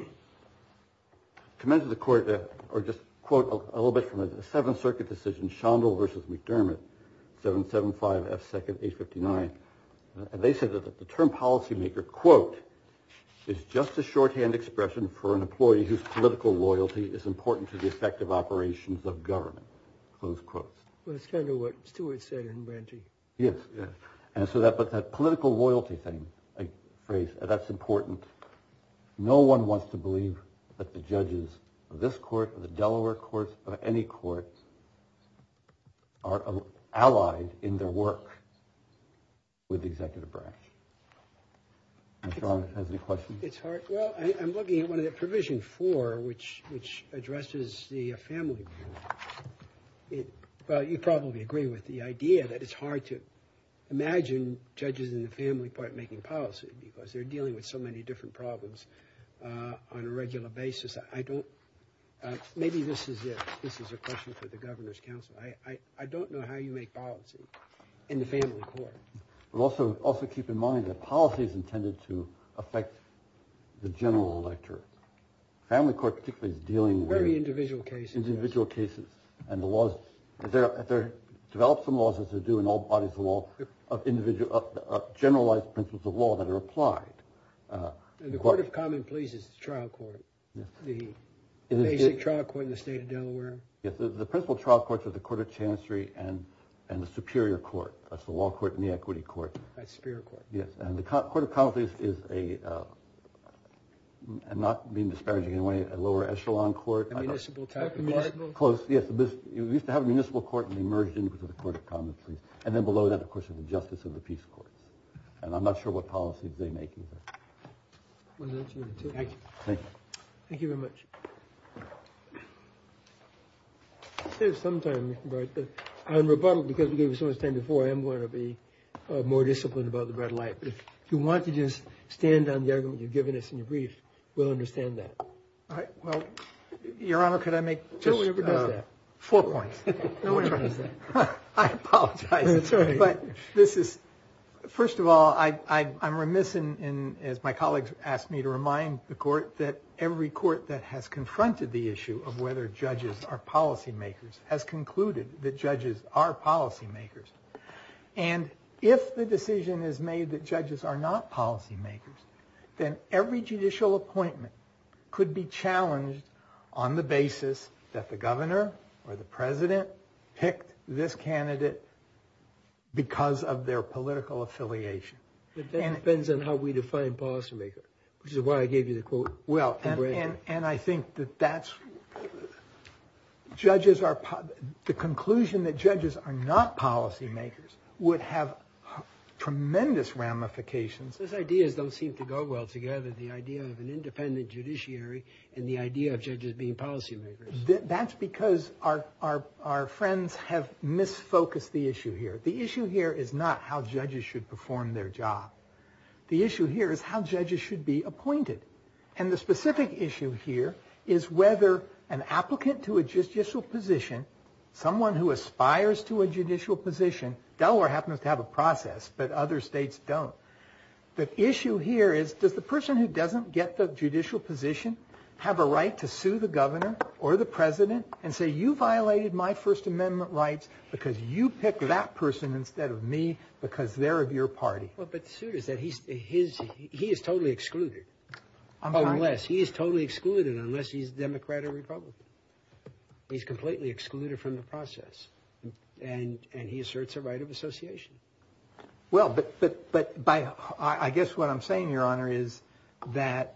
commend to the Court or just quote a little bit from the Seventh Circuit decision, Shondell v. McDermott, 775F says political loyalty is important to the effective operations of government. Close quotes. But it's kind of what Stewart said in Branty. Yes. And so that political loyalty thing, that's important. No one wants to believe that the judges of this court, the Delaware courts, or any courts are allied in their work with the executive branch. Mr. Arnold, has any questions? It's hard. Well, I'm looking at one of the Provision 4 which the family. Well, you probably agree with the idea that it's hard to imagine judges in the family part making policy because they're dealing with so many different problems on a regular basis. Maybe this is a question for the Governor's Council. I don't know how you make policy in the family court. Also keep in mind that policy is intended to affect the general electorate. The family court particularly is dealing with individual cases. And the laws, develop some laws as they do in all bodies of law, of generalized principles of law that are applied. And the Court of Common Pleas is the trial court, the basic trial court in the state of Delaware? Yes, the principal trial court is the Court of Chancery and the principal court is the law court and the equity court. And the Court of Common Pleas is a lower echelon court. We used to have a municipal court and then below that was the Justice of the Peace Court. I'm not sure what policy makers are. I'm going to be more disciplined about the red light. If you want to stand on the argument we'll understand that. Your Honor, can I make four points? I apologize. First of all, I'm remiss as my colleagues asked me to remind the court that every court that has confronted the issue of whether judges are policy makers has concluded that judges are policy makers. And if the decision is made that judges are not policy makers, then every judicial appointment could be challenged on the basis that the governor or the judge decision that judges are not policy makers. Which is why I gave you the quote. And I think that that's the conclusion that judges are not policy makers would have tremendous ramifications. Those ideas don't seem to go well together. The idea of an independent judiciary and the idea of judges being policy makers. That's because our friends have misfocused the issue here. The issue here is not how judges should perform their job. The issue here is how judges should be appointed. And the specific issue here is whether an individual who doesn't get the judicial position have a right to sue the governor or the president and say you violated my first amendment rights because you picked that person instead of me because they're of your party. He is totally excluded. He is excluded unless he is a judge. the issue here is that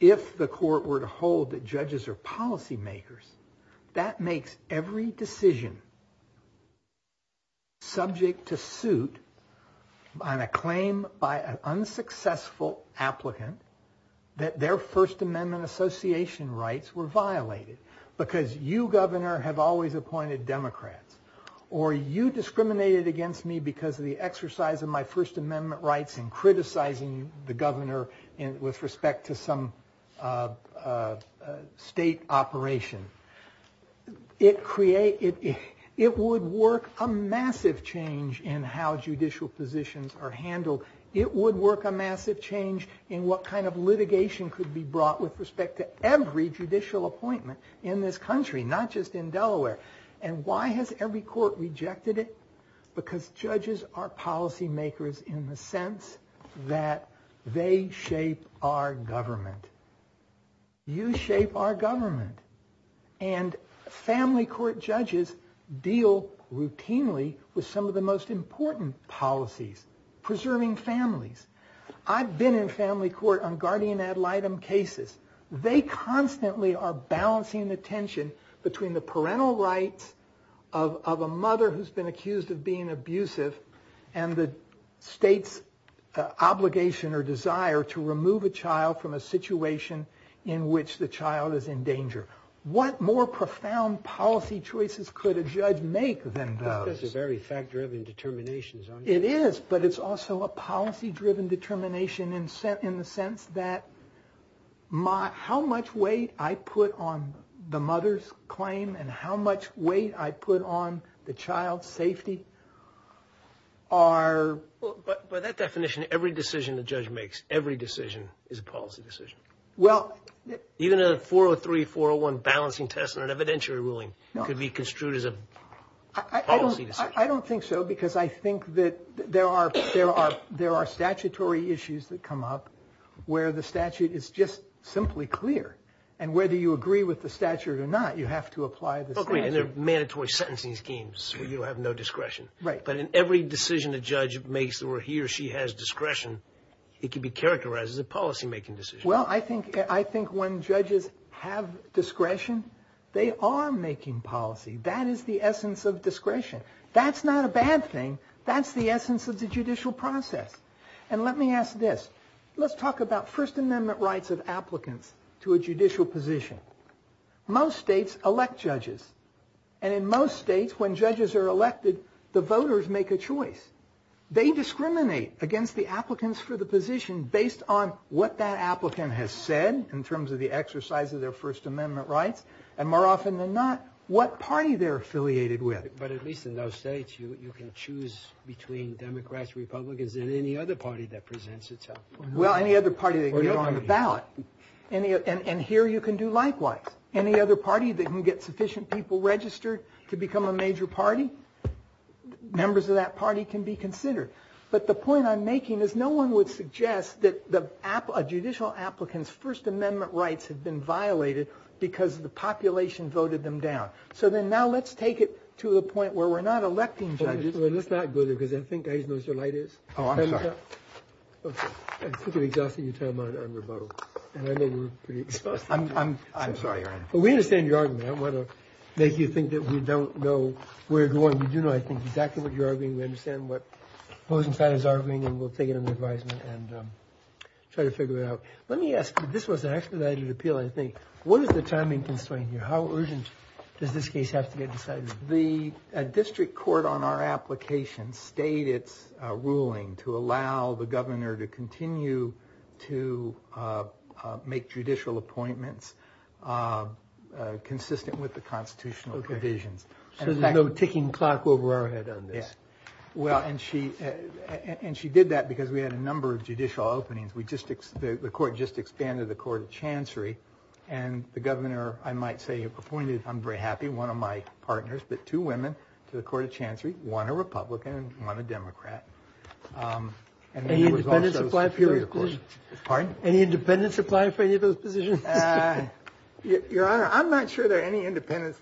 if the court were to hold that judges are policy makers that makes every decision subject to suit on a claim by an unsuccessful applicant that their first amendment association rights were violated because you governor have always appointed democrats or you discriminated against me because of the exercise of my first amendment rights and criticizing the governor with respect to some state operation. It would work a massive change in how judicial positions are handled. It would work a massive change in what kind of litigation could be brought with respect to every judicial appointment in this country, not just in Delaware. And why has every court rejected it? Because judges are policy makers in the sense that they shape our government. You shape our government. And family court judges deal routinely with some of the most important policies, preserving families. I've been in family court on guardian rights. I've court on the right to have parental rights. What more profound policy choices could a judge make than those? It is, but it's also a policy driven determination in the sense that how much weight I put on the mother's claim and how much weight I put on the child's safety. By that definition, every decision the judge makes, every decision is a policy decision. Even a 403-401 balancing test and evidentiary ruling could be construed as a policy decision. I don't think so because I think that there are statutory issues that come up where the statute is just simply clear. Whether you agree with the statute or not, you have to apply the statute. In every decision a judge makes where he or she has discretion, it can be characterized as a policy-making decision. Well, I think when judges have discretion, they are making policy. That is the essence of discretion. That's not a bad thing. That's the essence of the judicial process. And let me ask this. Let's talk about First Amendment rights of applicants to a judicial position. Most states elect judges. And in most states, when judges are elected, the voters make a choice. They discriminate against the applicants for the position based on what that applicant has said in terms of the exercise of their First Amendment rights, and more often than not, what party they're affiliated with. But at least in those states, you can choose between Democrats, Republicans, and any other party that presents itself. Well, any other party that gets on the ballot. And here you can do likewise. Any other party that can get sufficient people registered to become a major party, members of the or other party that enough people registered to become a major party, members of the Republican Party, or any other party that gets enough people registered to become a major party, people registered to become a major party, members of the Republican Party, or any other party that gets enough people registered to become the party. And you can other party that can register to become a major party, members of the Republican Party, or any other party that gets elected. I think he changed his registration. If he does seek positions as a Democrat,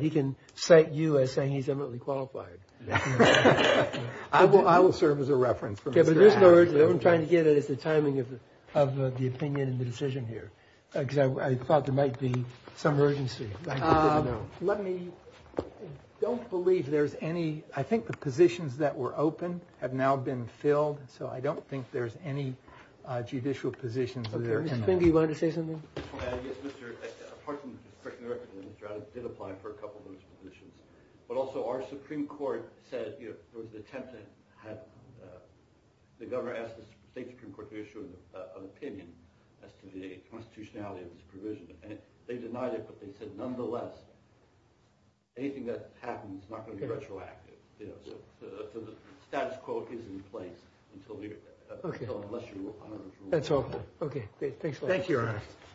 he can cite you as saying he's eminently qualified. I'm trying to get it as the timing of the opinion and the decision here. I think he's eminently I think he's eminently qualified. Thank Thanks a lot. Thank you. Thank you. Thank you. Thank you. Thank you. Thank you. Thank you. you. Thank you. Thank you. Thank you. Thank you. Thank you. Thank you. Thank you. Thank you. Thank you. Thank Thank you. Thank you. Thank you. Thank you. Thank you. Thank you. Thank you.